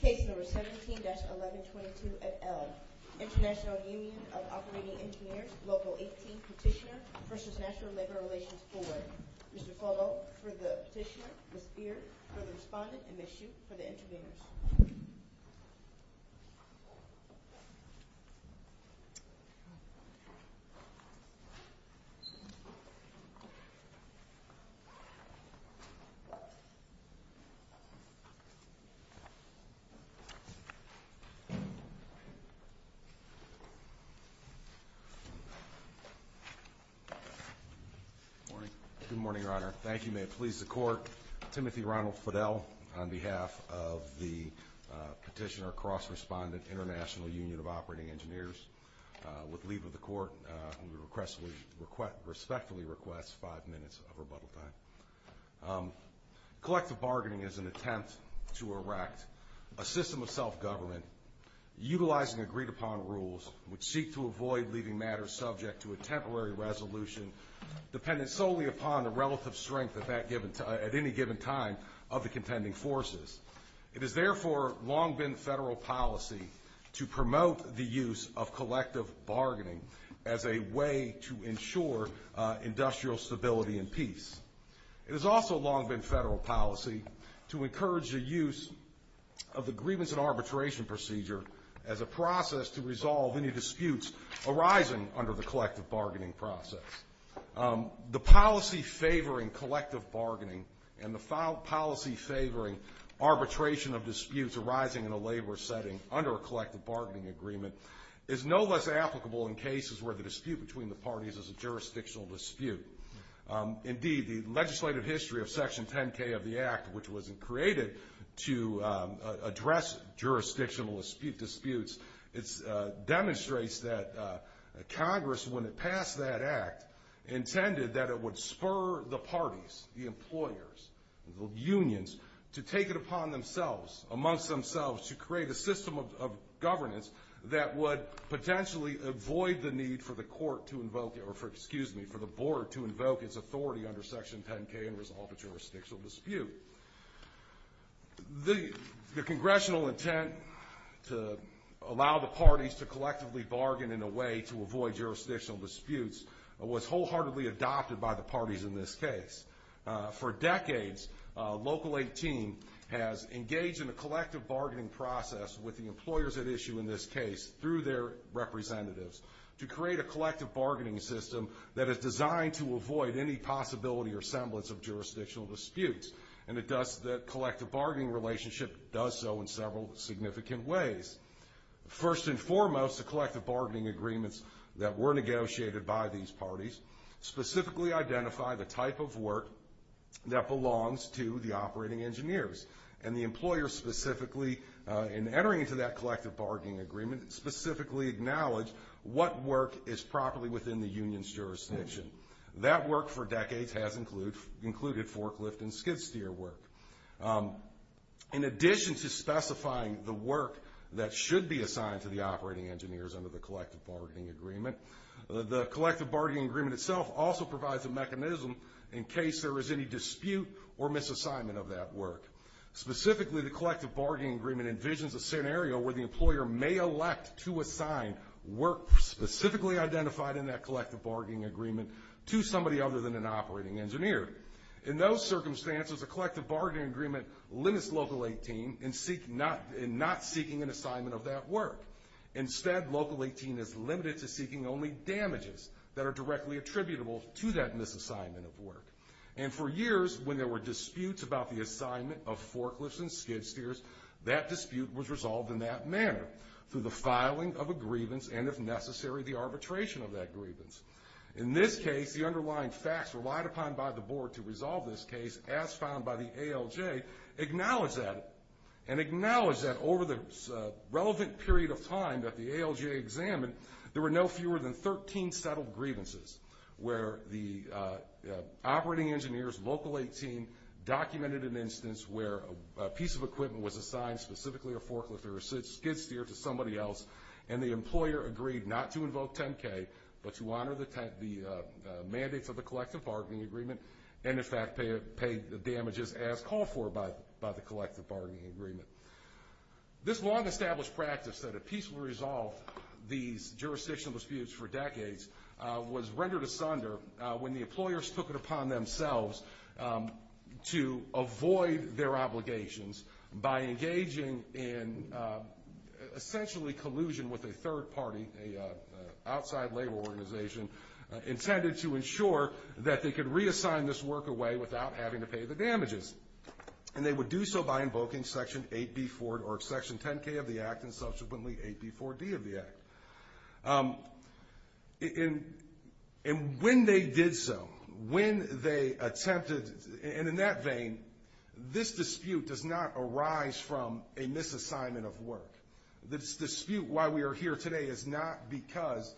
Case No. 17-1122 at Elm, International Union of Operating Engineers, Local 18, Petitioner v. National Labor Relations Board. Mr. Fallot for the petitioner, Ms. Beard for the respondent, and Ms. Hsu for the intervenors. Good morning, Your Honor. Thank you. May it please the Court. Timothy Ronald Fidel on behalf of the petitioner, cross-respondent, International Union of Operating Engineers. With leave of the Court, we respectfully request five minutes of rebuttal time. Collective bargaining is an attempt to erect a system of self-government utilizing agreed-upon rules which seek to avoid leaving matters subject to a temporary resolution dependent solely upon the relative strength at any given time of the contending forces. It has therefore long been federal policy to promote the use of collective bargaining as a way to ensure industrial stability and peace. It has also long been federal policy to encourage the use of the grievance and arbitration procedure as a process to resolve any disputes arising under the collective bargaining process. The policy favoring collective bargaining and the policy favoring arbitration of disputes arising in a labor setting under a collective bargaining agreement is no less applicable in cases where the dispute between the parties is a jurisdictional dispute. Indeed, the legislative history of Section 10K of the Act, which was created to address jurisdictional disputes, demonstrates that Congress, when it passed that Act, intended that it would spur the parties, the employers, the unions, to take it upon themselves, amongst themselves, to create a system of governance that would potentially avoid the need for the board to invoke its authority under Section 10K and resolve a jurisdictional dispute. The congressional intent to allow the parties to collectively bargain in a way to avoid jurisdictional disputes was wholeheartedly adopted by the parties in this case. For decades, Local 18 has engaged in a collective bargaining process with the employers at issue in this case through their representatives to create a collective bargaining system that is designed to avoid any possibility or semblance of jurisdictional disputes, and the collective bargaining relationship does so in several significant ways. First and foremost, the collective bargaining agreements that were negotiated by these parties specifically identify the type of work that belongs to the operating engineers, and the employers specifically, in entering into that collective bargaining agreement, specifically acknowledge what work is properly within the union's jurisdiction. That work for decades has included forklift and skid steer work. In addition to specifying the work that should be assigned to the operating engineers under the collective bargaining agreement, the collective bargaining agreement itself also provides a mechanism in case there is any dispute or misassignment of that work. Specifically, the collective bargaining agreement envisions a scenario where the employer may elect to assign work specifically identified in that collective bargaining agreement to somebody other than an operating engineer. In those circumstances, a collective bargaining agreement limits Local 18 in not seeking an assignment of that work. Instead, Local 18 is limited to seeking only damages that are directly attributable to that misassignment of work. And for years, when there were disputes about the assignment of forklifts and skid steers, that dispute was resolved in that manner, through the filing of a grievance and, if necessary, the arbitration of that grievance. In this case, the underlying facts relied upon by the board to resolve this case, as found by the ALJ, acknowledge that, and acknowledge that over the relevant period of time that the ALJ examined, there were no fewer than 13 settled grievances where the operating engineers, Local 18, documented an instance where a piece of equipment was assigned specifically a forklift or a skid steer to somebody else, and the employer agreed not to invoke 10-K, but to honor the mandates of the collective bargaining agreement, and, in fact, pay the damages as called for by the collective bargaining agreement. This long-established practice that a peaceful resolve these jurisdictional disputes for decades was rendered asunder when the employers took it upon themselves to avoid their obligations by engaging in essentially collusion with a third party, a outside labor organization, intended to ensure that they could reassign this work away without having to pay the damages, and they would do so by invoking Section 8B4, or Section 10-K of the Act, and subsequently 8B4-D of the Act. And when they did so, when they attempted, and in that vein, this dispute does not arise from a misassignment of work. This dispute, why we are here today, is not because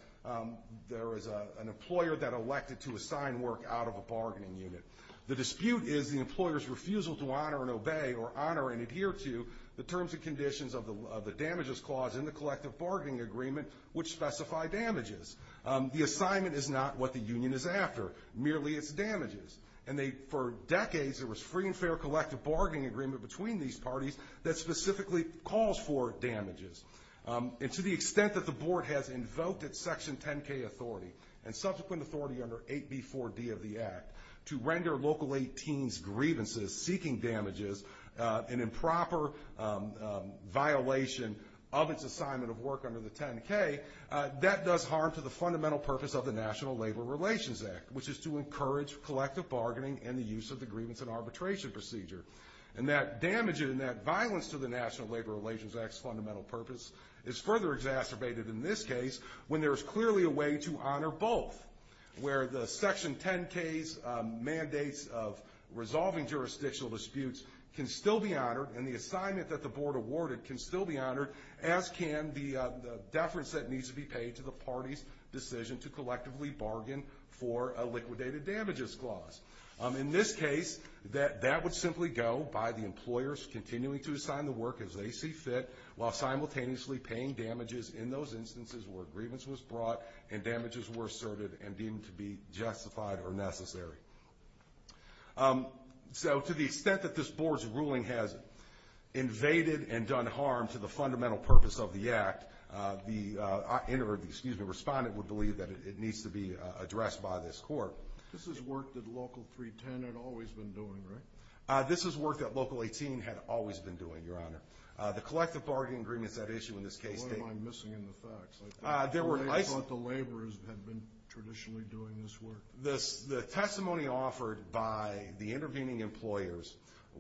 there is an employer that elected to assign work out of a bargaining unit. The dispute is the employer's refusal to honor and obey or honor and adhere to the terms and conditions of the damages clause in the collective bargaining agreement which specify damages. The assignment is not what the union is after, merely its damages. And for decades there was free and fair collective bargaining agreement between these parties that specifically calls for damages. And to the extent that the Board has invoked its Section 10-K authority and subsequent authority under 8B4-D of the Act to render Local 18's grievances seeking damages an improper violation of its assignment of work under the 10-K, that does harm to the fundamental purpose of the National Labor Relations Act, which is to encourage collective bargaining and the use of the grievance and arbitration procedure. And that damage and that violence to the National Labor Relations Act's fundamental purpose is further exacerbated in this case when there is clearly a way to honor both, where the Section 10-K's mandates of resolving jurisdictional disputes can still be honored and the assignment that the Board awarded can still be honored, as can the deference that needs to be paid to the party's decision to collectively bargain for a liquidated damages clause. In this case, that would simply go by the employers continuing to assign the work as they see fit while simultaneously paying damages in those instances where grievance was brought and damages were asserted and deemed to be justified or necessary. So, to the extent that this Board's ruling has invaded and done harm to the fundamental purpose of the Act, the respondent would believe that it needs to be addressed by this Court. This is work that Local 310 had always been doing, right? This is work that Local 18 had always been doing, Your Honor. The collective bargaining agreements that issue in this case... What am I missing in the facts? I thought the laborers had been traditionally doing this work. The testimony offered by the intervening employers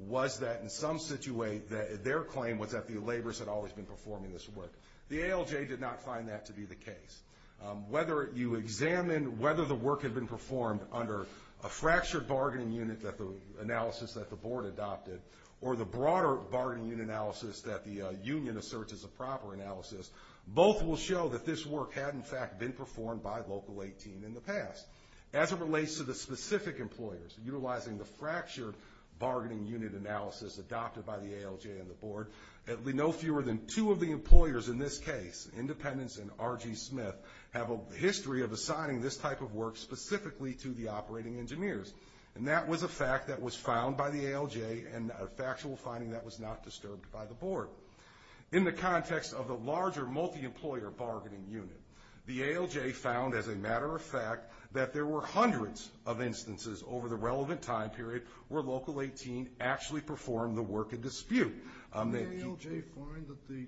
was that, in some situation, their claim was that the laborers had always been performing this work. The ALJ did not find that to be the case. Whether you examine whether the work had been performed under a fractured bargaining unit analysis that the Board adopted or the broader bargaining unit analysis that the union asserts is a proper analysis, both will show that this work had, in fact, been performed by Local 18 in the past. As it relates to the specific employers utilizing the fractured bargaining unit analysis adopted by the ALJ and the Board, no fewer than two of the employers in this case, Independence and R.G. Smith, have a history of assigning this type of work specifically to the operating engineers. And that was a fact that was found by the ALJ and a factual finding that was not disturbed by the Board. In the context of the larger multi-employer bargaining unit, the ALJ found, as a matter of fact, that there were hundreds of instances over the relevant time period where Local 18 actually performed the work in dispute. Did the ALJ find that the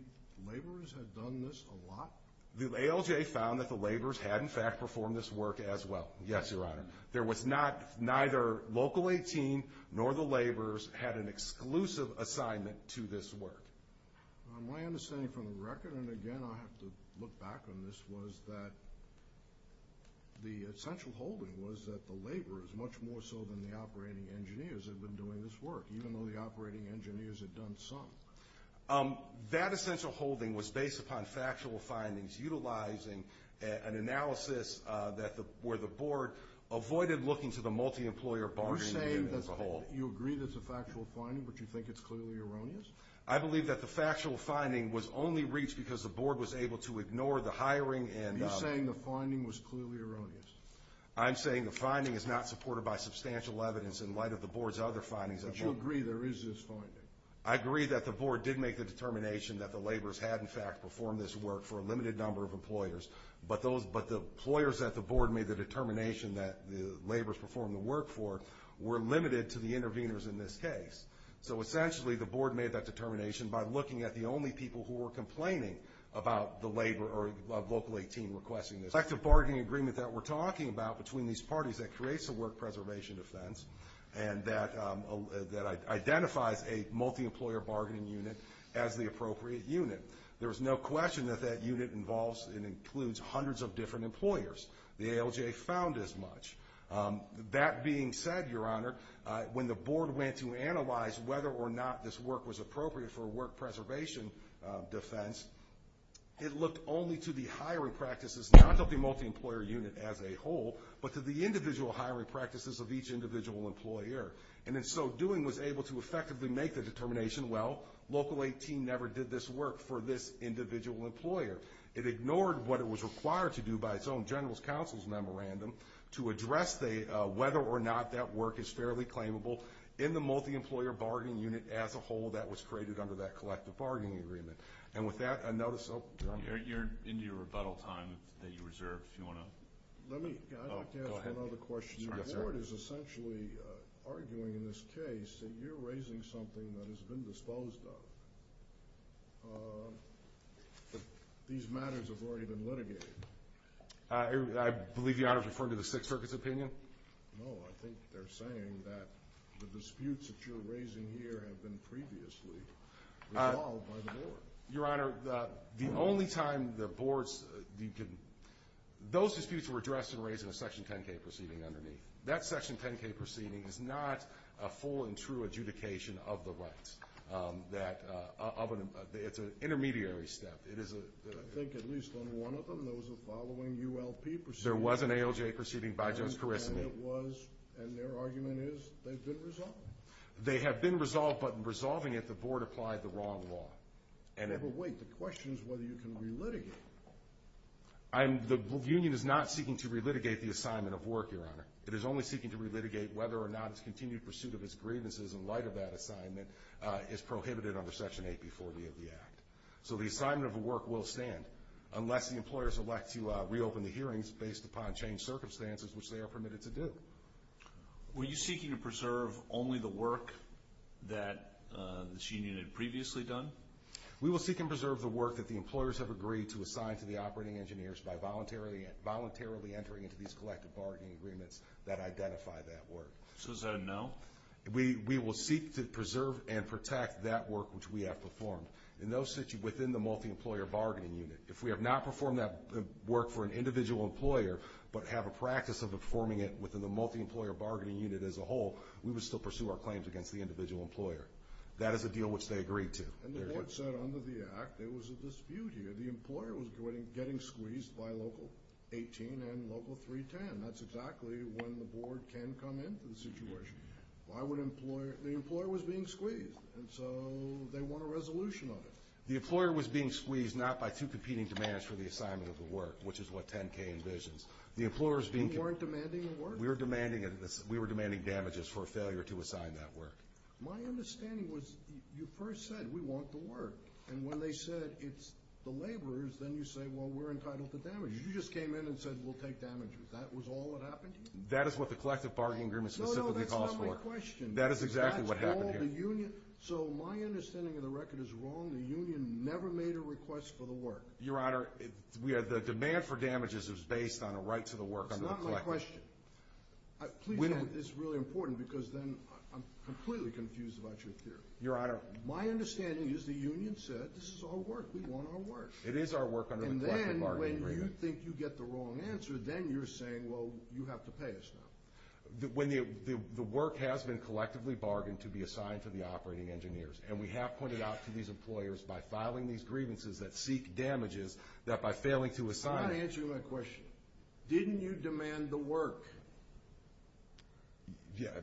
laborers had done this a lot? The ALJ found that the laborers had, in fact, performed this work as well, yes, Your Honor. There was not, neither Local 18 nor the laborers had an exclusive assignment to this work. My understanding from the record, and again I have to look back on this, was that the essential holding was that the laborers, much more so than the operating engineers, had been doing this work, even though the operating engineers had done some. That essential holding was based upon factual findings, utilizing an analysis where the Board avoided looking to the multi-employer bargaining unit as a whole. You're saying that you agree that it's a factual finding, but you think it's clearly erroneous? I believe that the factual finding was only reached because the Board was able to ignore the hiring. Are you saying the finding was clearly erroneous? I'm saying the finding is not supported by substantial evidence in light of the Board's other findings. But you agree there is this finding? I agree that the Board did make the determination that the laborers had, in fact, performed this work for a limited number of employers, but the employers that the Board made the determination that the laborers performed the work for were limited to the interveners in this case. So essentially the Board made that determination by looking at the only people who were complaining about the laborer of Local 18 requesting this. The collective bargaining agreement that we're talking about between these parties that creates a work preservation defense and that identifies a multi-employer bargaining unit as the appropriate unit. There is no question that that unit involves and includes hundreds of different employers. The ALJ found as much. That being said, Your Honor, when the Board went to analyze whether or not this work was appropriate for a work preservation defense, it looked only to the hiring practices, not to the multi-employer unit as a whole, but to the individual hiring practices of each individual employer. And in so doing was able to effectively make the determination, well, Local 18 never did this work for this individual employer. It ignored what it was required to do by its own general counsel's memorandum to address whether or not that work is fairly claimable in the multi-employer bargaining unit as a whole that was created under that collective bargaining agreement. And with that, I notice— You're into your rebuttal time that you reserved. If you want to— Go ahead. I'd like to ask one other question. The Board is essentially arguing in this case that you're raising something that has been disposed of. These matters have already been litigated. I believe Your Honor is referring to the Sixth Circuit's opinion? No, I think they're saying that the disputes that you're raising here have been previously resolved by the Board. Your Honor, the only time the Board's— Those disputes were addressed and raised in a Section 10k proceeding underneath. That Section 10k proceeding is not a full and true adjudication of the rights. It's an intermediary step. I think at least on one of them, there was a following ULP proceeding. There was an ALJ proceeding by Judge Karisany. And it was, and their argument is, they've been resolved. They have been resolved, but in resolving it, the Board applied the wrong law. But wait, the question is whether you can re-litigate. The union is not seeking to re-litigate the assignment of work, Your Honor. It is only seeking to re-litigate whether or not its continued pursuit of its grievances in light of that assignment is prohibited under Section 8b40 of the Act. So the assignment of work will stand, unless the employers elect to reopen the hearings based upon changed circumstances, which they are permitted to do. Were you seeking to preserve only the work that this union had previously done? We will seek and preserve the work that the employers have agreed to assign to the operating engineers by voluntarily entering into these collective bargaining agreements that identify that work. So is that a no? We will seek to preserve and protect that work which we have performed within the multi-employer bargaining unit. If we have not performed that work for an individual employer, but have a practice of performing it within the multi-employer bargaining unit as a whole, we would still pursue our claims against the individual employer. That is a deal which they agreed to. And the Board said under the Act there was a dispute here. The employer was getting squeezed by Local 18 and Local 310. That's exactly when the Board can come in for the situation. The employer was being squeezed, and so they want a resolution on it. The employer was being squeezed not by two competing demands for the assignment of the work, which is what 10-K envisions. You weren't demanding the work? We were demanding damages for a failure to assign that work. My understanding was you first said we want the work, and when they said it's the laborers, then you say, well, we're entitled to damages. You just came in and said we'll take damages. That was all that happened to you? That is what the collective bargaining agreement specifically calls for. No, no, that's not my question. That is exactly what happened here. So my understanding of the record is wrong. The union never made a request for the work. Your Honor, the demand for damages is based on a right to the work. That's not my question. Please note this is really important because then I'm completely confused about your theory. Your Honor, my understanding is the union said this is all work. We want our work. It is our work under the collective bargaining agreement. And then when you think you get the wrong answer, then you're saying, well, you have to pay us now. The work has been collectively bargained to be assigned to the operating engineers, and we have pointed out to these employers by filing these grievances that seek damages that by failing to assign it. I'm not answering my question. Didn't you demand the work?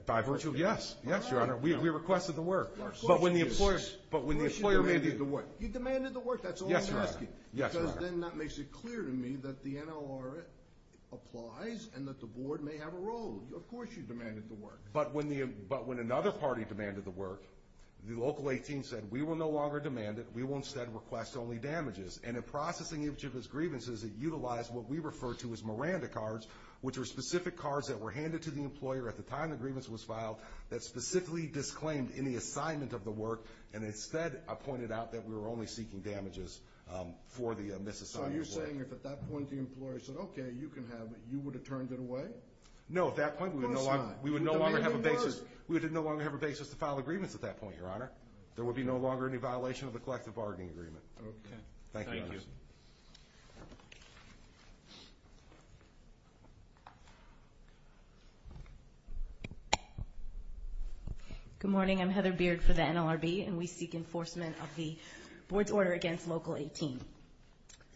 By virtue of yes. Yes, Your Honor. We requested the work. Of course you did. Of course you demanded the work. You demanded the work. That's all I'm asking. Yes, Your Honor. Because then that makes it clear to me that the NLR applies and that the board may have a role. Of course you demanded the work. But when another party demanded the work, the local 18 said, we will no longer demand it. We will instead request only damages. And in processing each of his grievances, it utilized what we refer to as Miranda cards, which are specific cards that were handed to the employer at the time the grievance was filed that specifically disclaimed any assignment of the work, and instead pointed out that we were only seeking damages for the misassignment of work. So you're saying if at that point the employer said, okay, you can have it, you would have turned it away? No, at that point we would no longer demand it. We would no longer have a basis to file agreements at that point, Your Honor. There would be no longer any violation of the collective bargaining agreement. Thank you, Your Honor. Good morning. I'm Heather Beard for the NLRB, and we seek enforcement of the board's order against local 18.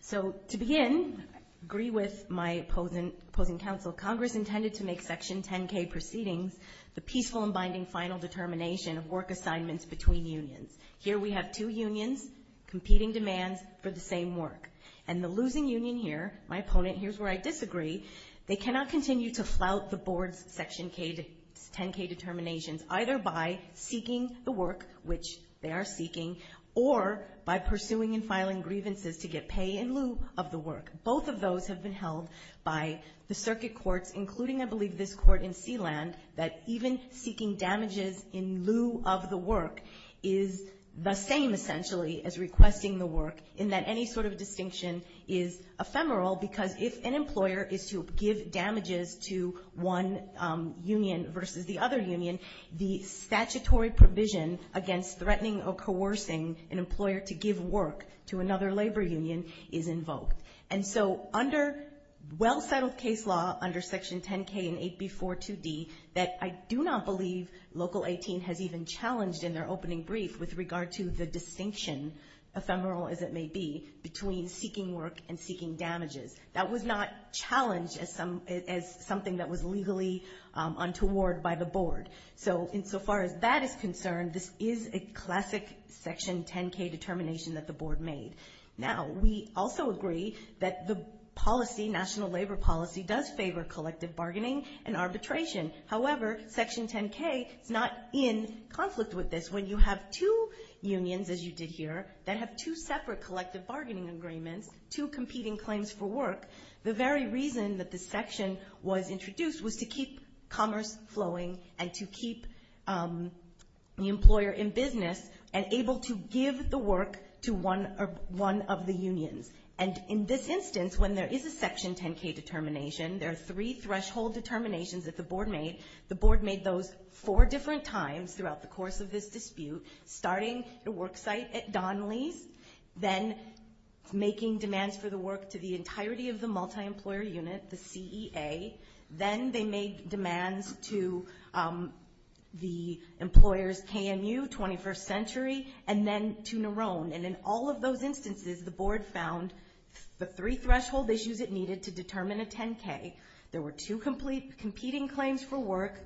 So to begin, I agree with my opposing counsel. Congress intended to make Section 10K proceedings the peaceful and binding final determination of work assignments between unions. Here we have two unions competing demands for the same work. And the losing union here, my opponent, here's where I disagree, they cannot continue to flout the board's Section 10K determinations, either by seeking the work, which they are seeking, or by pursuing and filing grievances to get pay in lieu of the work. Both of those have been held by the circuit courts, including, I believe, this court in Sealand, that even seeking damages in lieu of the work is the same, essentially, as requesting the work, in that any sort of distinction is ephemeral, because if an employer is to give damages to one union versus the other union, the statutory provision against threatening or coercing an employer to give work to another labor union is invoked. And so under well-settled case law, under Section 10K and 8B.4.2d, that I do not believe local 18 has even challenged in their opening brief with regard to the distinction, ephemeral as it may be, between seeking work and seeking damages. That was not challenged as something that was legally untoward by the board. So insofar as that is concerned, this is a classic Section 10K determination that the board made. Now, we also agree that the policy, national labor policy, does favor collective bargaining and arbitration. However, Section 10K is not in conflict with this. When you have two unions, as you did here, that have two separate collective bargaining agreements, two competing claims for work, the very reason that this section was introduced was to keep commerce flowing and to keep the employer in business and able to give the work to one of the unions. And in this instance, when there is a Section 10K determination, there are three threshold determinations that the board made. The board made those four different times throughout the course of this dispute, starting the worksite at Donnelly's, then making demands for the work to the entirety of the multi-employer unit, the CEA. Then they made demands to the employer's KMU, 21st Century, and then to Narone. And in all of those instances, the board found the three threshold issues it needed to determine a 10K. There were two competing claims for work.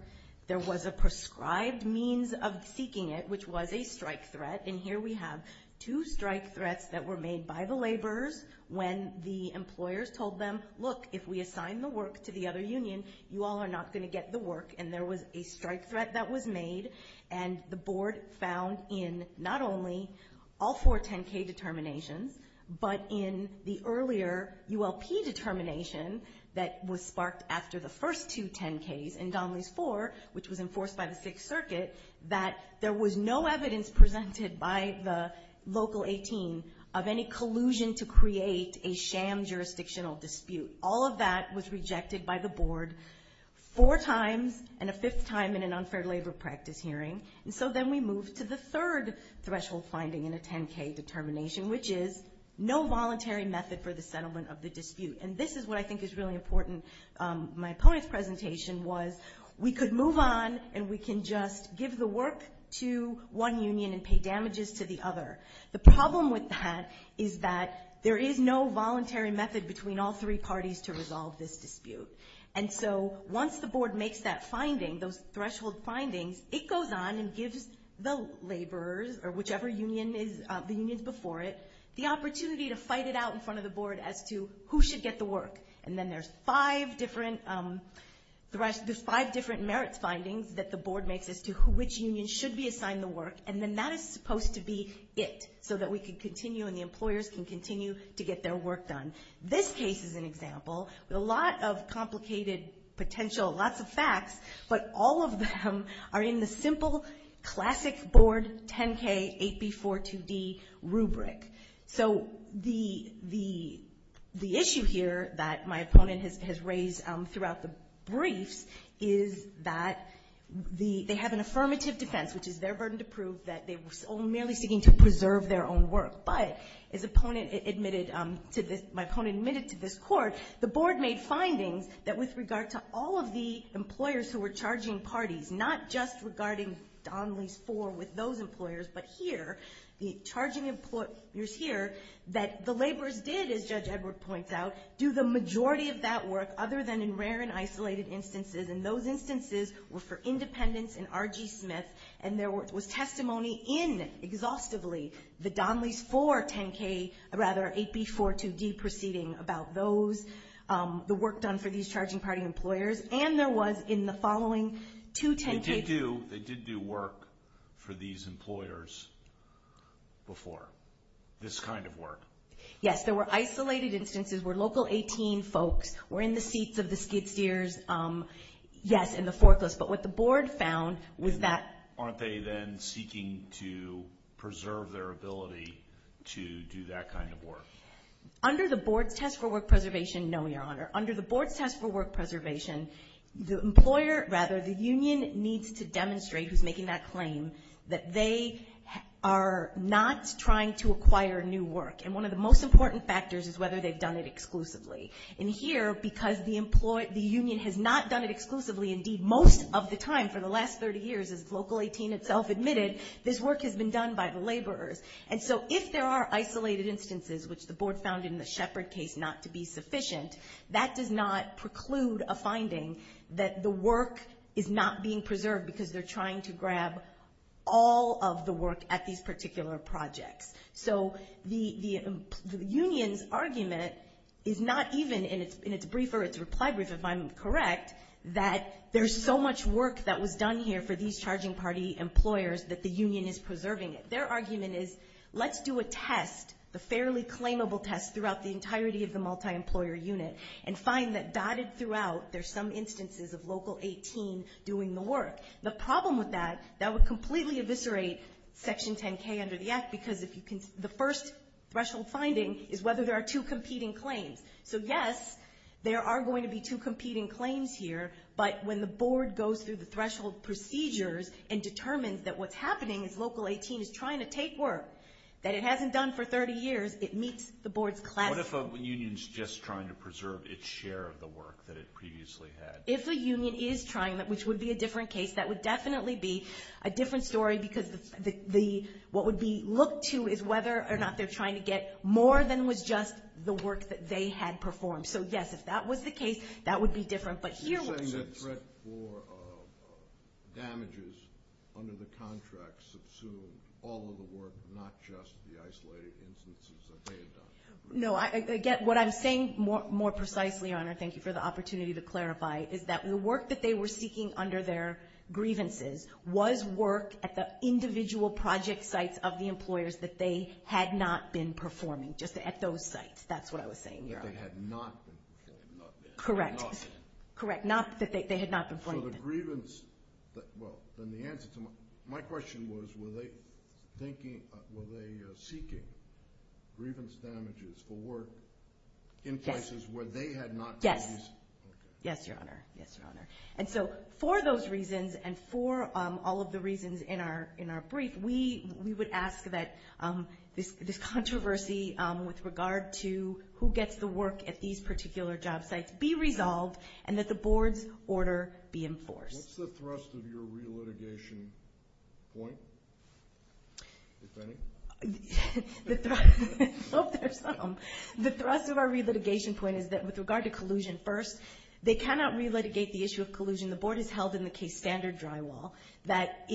There was a prescribed means of seeking it, which was a strike threat. And here we have two strike threats that were made by the laborers when the employers told them, look, if we assign the work to the other union, you all are not going to get the work. And there was a strike threat that was made. And the board found in not only all four 10K determinations, but in the earlier ULP determination that was sparked after the first two 10Ks in Donnelly's 4, which was enforced by the Sixth Circuit, that there was no evidence presented by the Local 18 of any collusion to create a sham jurisdictional dispute. All of that was rejected by the board four times and a fifth time in an unfair labor practice hearing. And so then we moved to the third threshold finding in a 10K determination, which is no voluntary method for the settlement of the dispute. And this is what I think is really important. My opponent's presentation was we could move on and we can just give the work to one union and pay damages to the other. The problem with that is that there is no voluntary method between all three parties to resolve this dispute. And so once the board makes that finding, those threshold findings, it goes on and gives the laborers or whichever union is, the unions before it, the opportunity to fight it out in front of the board as to who should get the work. And then there's five different merits findings that the board makes as to which union should be assigned the work. And then that is supposed to be it so that we can continue and the employers can continue to get their work done. This case is an example with a lot of complicated potential, lots of facts, but all of them are in the simple classic board 10K 8B4 2D rubric. So the issue here that my opponent has raised throughout the briefs is that they have an affirmative defense, which is their burden to prove that they were merely seeking to preserve their own work. But as my opponent admitted to this court, the board made findings that with regard to all of the employers who were charging parties, not just regarding Donnelly's four with those employers, but here, the charging employers here that the laborers did, as Judge Edward points out, do the majority of that work other than in rare and isolated instances. And those instances were for independents and R.G. Smith. And there was testimony in, exhaustively, the Donnelly's four 10K, or rather 8B4 2D proceeding about those, the work done for these charging party employers. And there was in the following two 10K. They did do work for these employers before, this kind of work. Yes, there were isolated instances where local 18 folks were in the seats of the skid steers Yes, in the forklifts. But what the board found was that Aren't they then seeking to preserve their ability to do that kind of work? Under the board's test for work preservation, no, Your Honor. Under the board's test for work preservation, the employer, rather, the union needs to demonstrate who's making that claim, that they are not trying to acquire new work. And one of the most important factors is whether they've done it exclusively. And here, because the union has not done it exclusively, indeed most of the time for the last 30 years, as local 18 itself admitted, this work has been done by the laborers. And so if there are isolated instances, which the board found in the Shepard case not to be sufficient, that does not preclude a finding that the work is not being preserved because they're trying to grab all of the work at these particular projects. So the union's argument is not even in its brief or its reply brief, if I'm correct, that there's so much work that was done here for these charging party employers that the union is preserving it. Their argument is let's do a test, the fairly claimable test throughout the entirety of the multi-employer unit, and find that dotted throughout there's some instances of local 18 doing the work. The problem with that, that would completely eviscerate Section 10K under the Act because the first threshold finding is whether there are two competing claims. So yes, there are going to be two competing claims here, but when the board goes through the threshold procedures and determines that what's happening is local 18 is trying to take work that it hasn't done for 30 years, it meets the board's class. What if a union's just trying to preserve its share of the work that it previously had? If a union is trying, which would be a different case, that would definitely be a different story because what would be looked to is whether or not they're trying to get more than was just the work that they had performed. So yes, if that was the case, that would be different. But here what's the difference? You're saying that threat for damages under the contract subsumed all of the work, not just the isolated instances that they had done? No. Again, what I'm saying more precisely, Your Honor, thank you for the opportunity to clarify, is that the work that they were seeking under their grievances was work at the individual project sites of the employers that they had not been performing, just at those sites. That's what I was saying, Your Honor. That they had not been performing. Correct. Correct, not that they had not been performing. So the grievance, well, then the answer to my question was, were they seeking grievance damages for work in places where they had not done these? Yes, Your Honor. Yes, Your Honor. And so for those reasons and for all of the reasons in our brief, we would ask that this controversy with regard to who gets the work at these particular job sites be resolved and that the board's order be enforced. What's the thrust of your relitigation point, if any? The thrust of our relitigation point is that with regard to collusion, first, they cannot relitigate the issue of collusion. The board has held in the case standard drywall that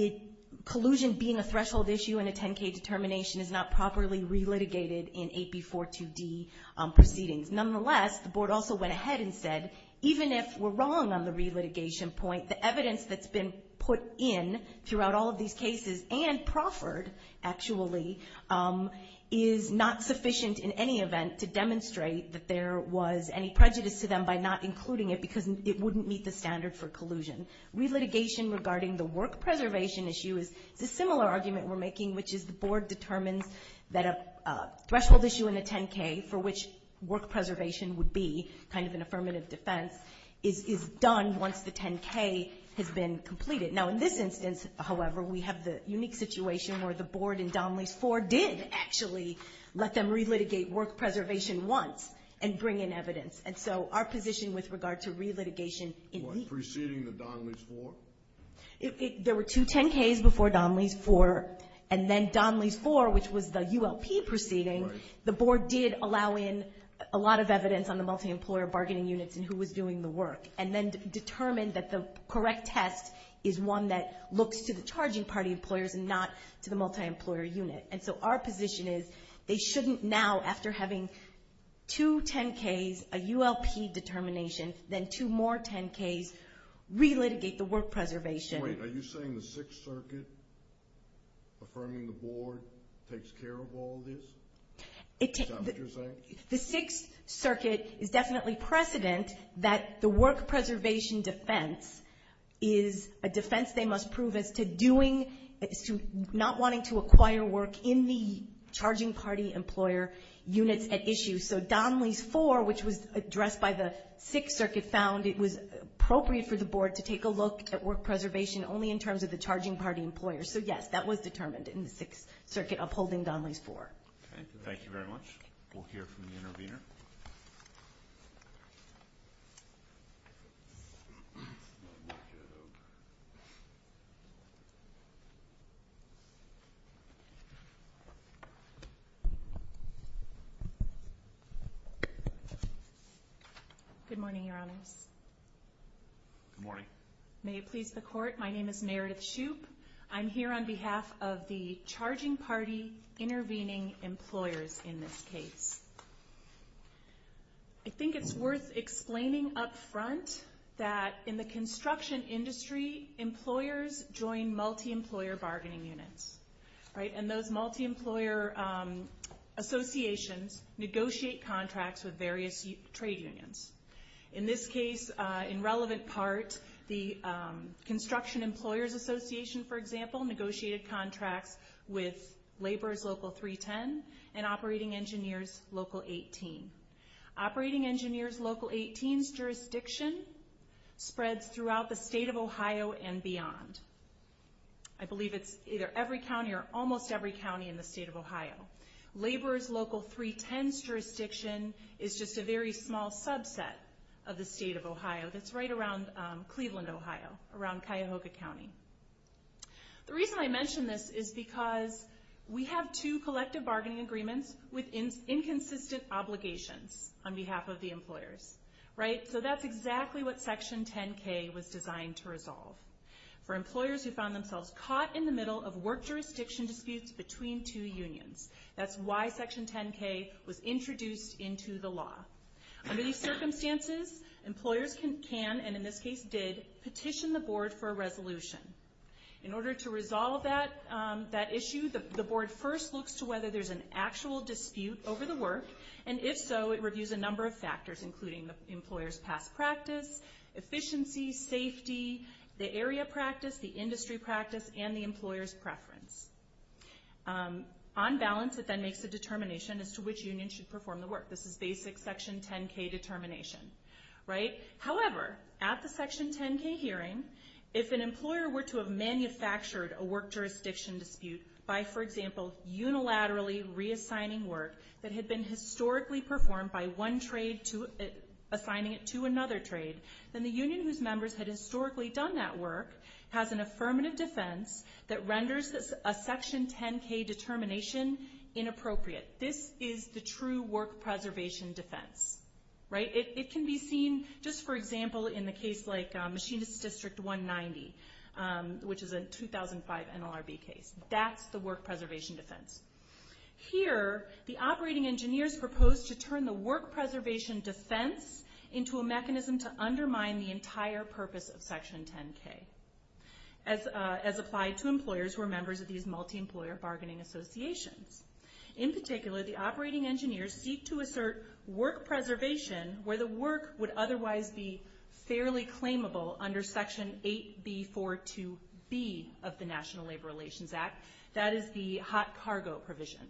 collusion being a threshold issue in a 10-K determination is not properly relitigated in AP 42D proceedings. Nonetheless, the board also went ahead and said, even if we're wrong on the relitigation point, the evidence that's been put in throughout all of these cases, and proffered, actually, is not sufficient in any event to demonstrate that there was any prejudice to them by not including it because it wouldn't meet the standard for collusion. Relitigation regarding the work preservation issue is a similar argument we're making, which is the board determines that a threshold issue in a 10-K for which work preservation would be kind of an affirmative defense is done once the 10-K has been completed. Now, in this instance, however, we have the unique situation where the board in Donnelly's 4 did actually let them relitigate work preservation once and bring in evidence. And so our position with regard to relitigation in AP. Was preceding the Donnelly's 4? There were two 10-Ks before Donnelly's 4, and then Donnelly's 4, which was the ULP proceeding, the board did allow in a lot of evidence on the multi-employer bargaining units and who was doing the work, and then determined that the correct test is one that looks to the charging party employers and not to the multi-employer unit. And so our position is they shouldn't now, after having two 10-Ks, a ULP determination, then two more 10-Ks, relitigate the work preservation. So wait, are you saying the Sixth Circuit, affirming the board, takes care of all this? Is that what you're saying? The Sixth Circuit is definitely precedent that the work preservation defense is a defense they must prove as to doing, as to not wanting to acquire work in the charging party employer units at issue. So Donnelly's 4, which was addressed by the Sixth Circuit, found it was appropriate for the board to take a look at work preservation only in terms of the charging party employers. So yes, that was determined in the Sixth Circuit, upholding Donnelly's 4. Okay, thank you very much. We'll hear from the intervener. Good morning, Your Honors. Good morning. May it please the Court, my name is Meredith Shoup. I'm here on behalf of the charging party intervening employers in this case. I think it's worth explaining up front there was a lot of discussion about whether or not the charging party construction industry employers join multi-employer bargaining units. And those multi-employer associations negotiate contracts with various trade unions. In this case, in relevant part, the Construction Employers Association, for example, negotiated contracts with Laborers Local 310 and Operating Engineers Local 18. Operating Engineers Local 18's jurisdiction spreads throughout the state of Ohio and beyond. I believe it's either every county or almost every county in the state of Ohio. Laborers Local 310's jurisdiction is just a very small subset of the state of Ohio. That's right around Cleveland, Ohio, around Cuyahoga County. The reason I mention this is because we have two collective bargaining agreements with inconsistent obligations on behalf of the employers. That's exactly what Section 10-K was designed to resolve. For employers who found themselves caught in the middle of work jurisdiction disputes between two unions. That's why Section 10-K was introduced into the law. Under these circumstances, employers can, and in this case did, petition the board for a resolution. In order to resolve that issue, the board first looks to whether and if so, it reviews a number of factors including the employer's past practice, efficiency, safety, the area practice, the industry practice, and the employer's preference. On balance, it then makes a determination as to which union should perform the work. This is basic Section 10-K determination. However, at the Section 10-K hearing, if an employer were to have manufactured a work jurisdiction dispute by, for example, unilaterally reassigning work that had been historically performed by one trade assigning it to another trade, then the union whose members had historically done that work has an affirmative defense that renders a Section 10-K determination inappropriate. This is the true work preservation defense. It can be seen, just for example, in the case like Machinist District 190, which is a 2005 NLRB case. That's the work preservation defense. Here, the operating engineers proposed to turn the work preservation defense into a mechanism to undermine the entire purpose of Section 10-K as applied to employers who are members of these multi-employer bargaining associations. In particular, the operating engineers seek to assert work preservation where the work would otherwise be fairly claimable under Section 8B42B of the National Labor Relations Act. That is the hot cargo provision.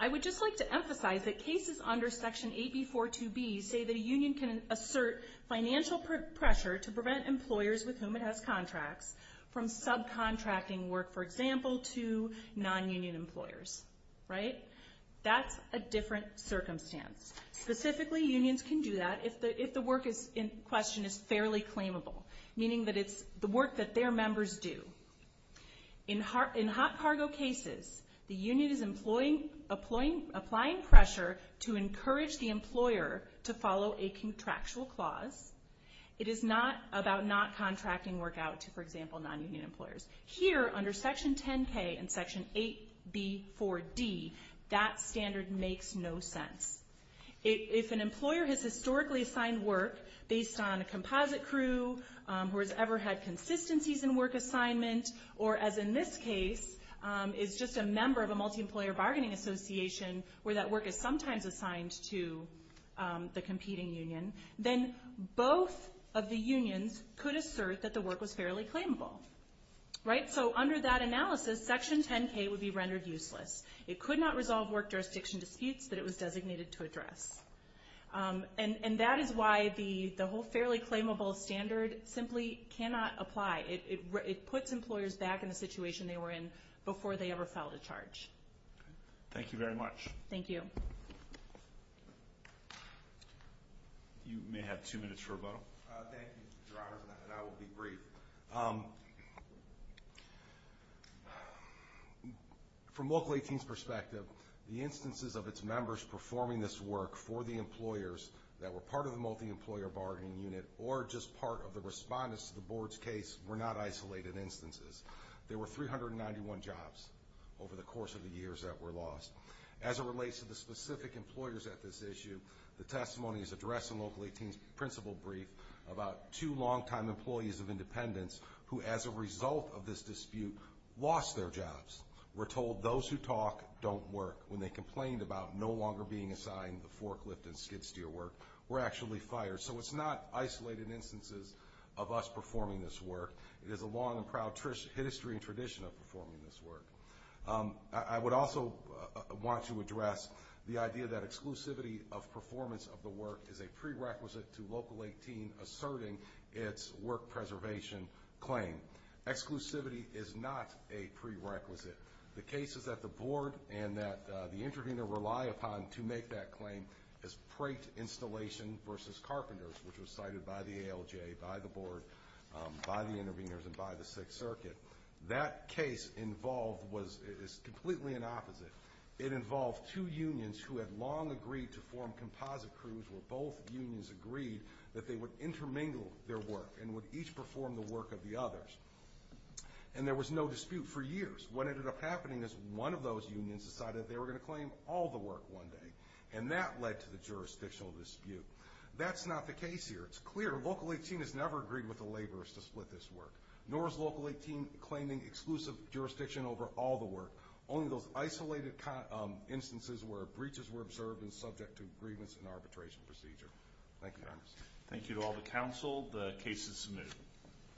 I would just like to emphasize that cases under Section 8B42B say that a union can assert financial pressure to prevent employers with whom it has contracts from subcontracting work, for example, to non-union employers, right? That's a different circumstance. Specifically, unions can do that if the work in question is fairly claimable, meaning that it's the work that their members do. In hot cargo cases, the union is applying pressure to encourage the employer to follow a contractual clause. It is not about not contracting work out to, for example, non-union employers. Here, under Section 10-K and Section 8B4D, that standard makes no sense. If an employer has historically assigned work based on a composite crew or has ever had consistencies in work assignment or, as in this case, is just a member of a multi-employer bargaining association where that work is sometimes assigned to the competing union, then both of the unions could assert that the work was fairly claimable, right? Under that analysis, Section 10-K would be rendered useless. It could not resolve work jurisdiction disputes that it was designated to address. And that is why the whole fairly claimable standard simply cannot apply. It puts employers back in the situation they were in before they ever filed a charge. Thank you very much. Thank you. You may have two minutes for a vote. Thank you, Your Honor, and I will be brief. From Local 18's perspective, the instances of its members performing this work for the employers that were part of the multi-employer bargaining unit or just part of the respondents to the board's case were not isolated instances. There were 391 jobs over the course of the years that were lost. As it relates to the specific employers at this issue, the testimony is addressed in Local 18's principal brief about two longtime employees of Independence who, as a result of this dispute, lost their jobs. We're told those who talk don't work. When they complained about no longer being assigned the forklift and skid-steer work, were actually fired. So it's not isolated instances of us performing this work. It is a long and proud history and tradition of performing this work. I would also want to address the idea that exclusivity of performance of the work is a prerequisite to Local 18 asserting its work preservation claim. Exclusivity is not a prerequisite. The cases that the board and that the intervener rely upon to make that claim is Prate Installation v. Carpenters, which was cited by the ALJ, by the board, by the interveners, and by the Sixth Circuit. That case involved was completely an opposite. It involved two unions who had long agreed to form composite crews where both unions agreed that they would intermingle their work and would each perform the work of the others. And there was no dispute for years. What ended up happening is one of those unions decided they were going to claim all the work one day, and that led to the jurisdictional dispute. That's not the case here. It's clear Local 18 has never agreed with the laborers to split this work, nor is Local 18 claiming exclusive jurisdiction over all the work, only those isolated instances where breaches were observed and subject to a grievance and arbitration procedure. Thank you very much. Thank you to all the council. The case is moved.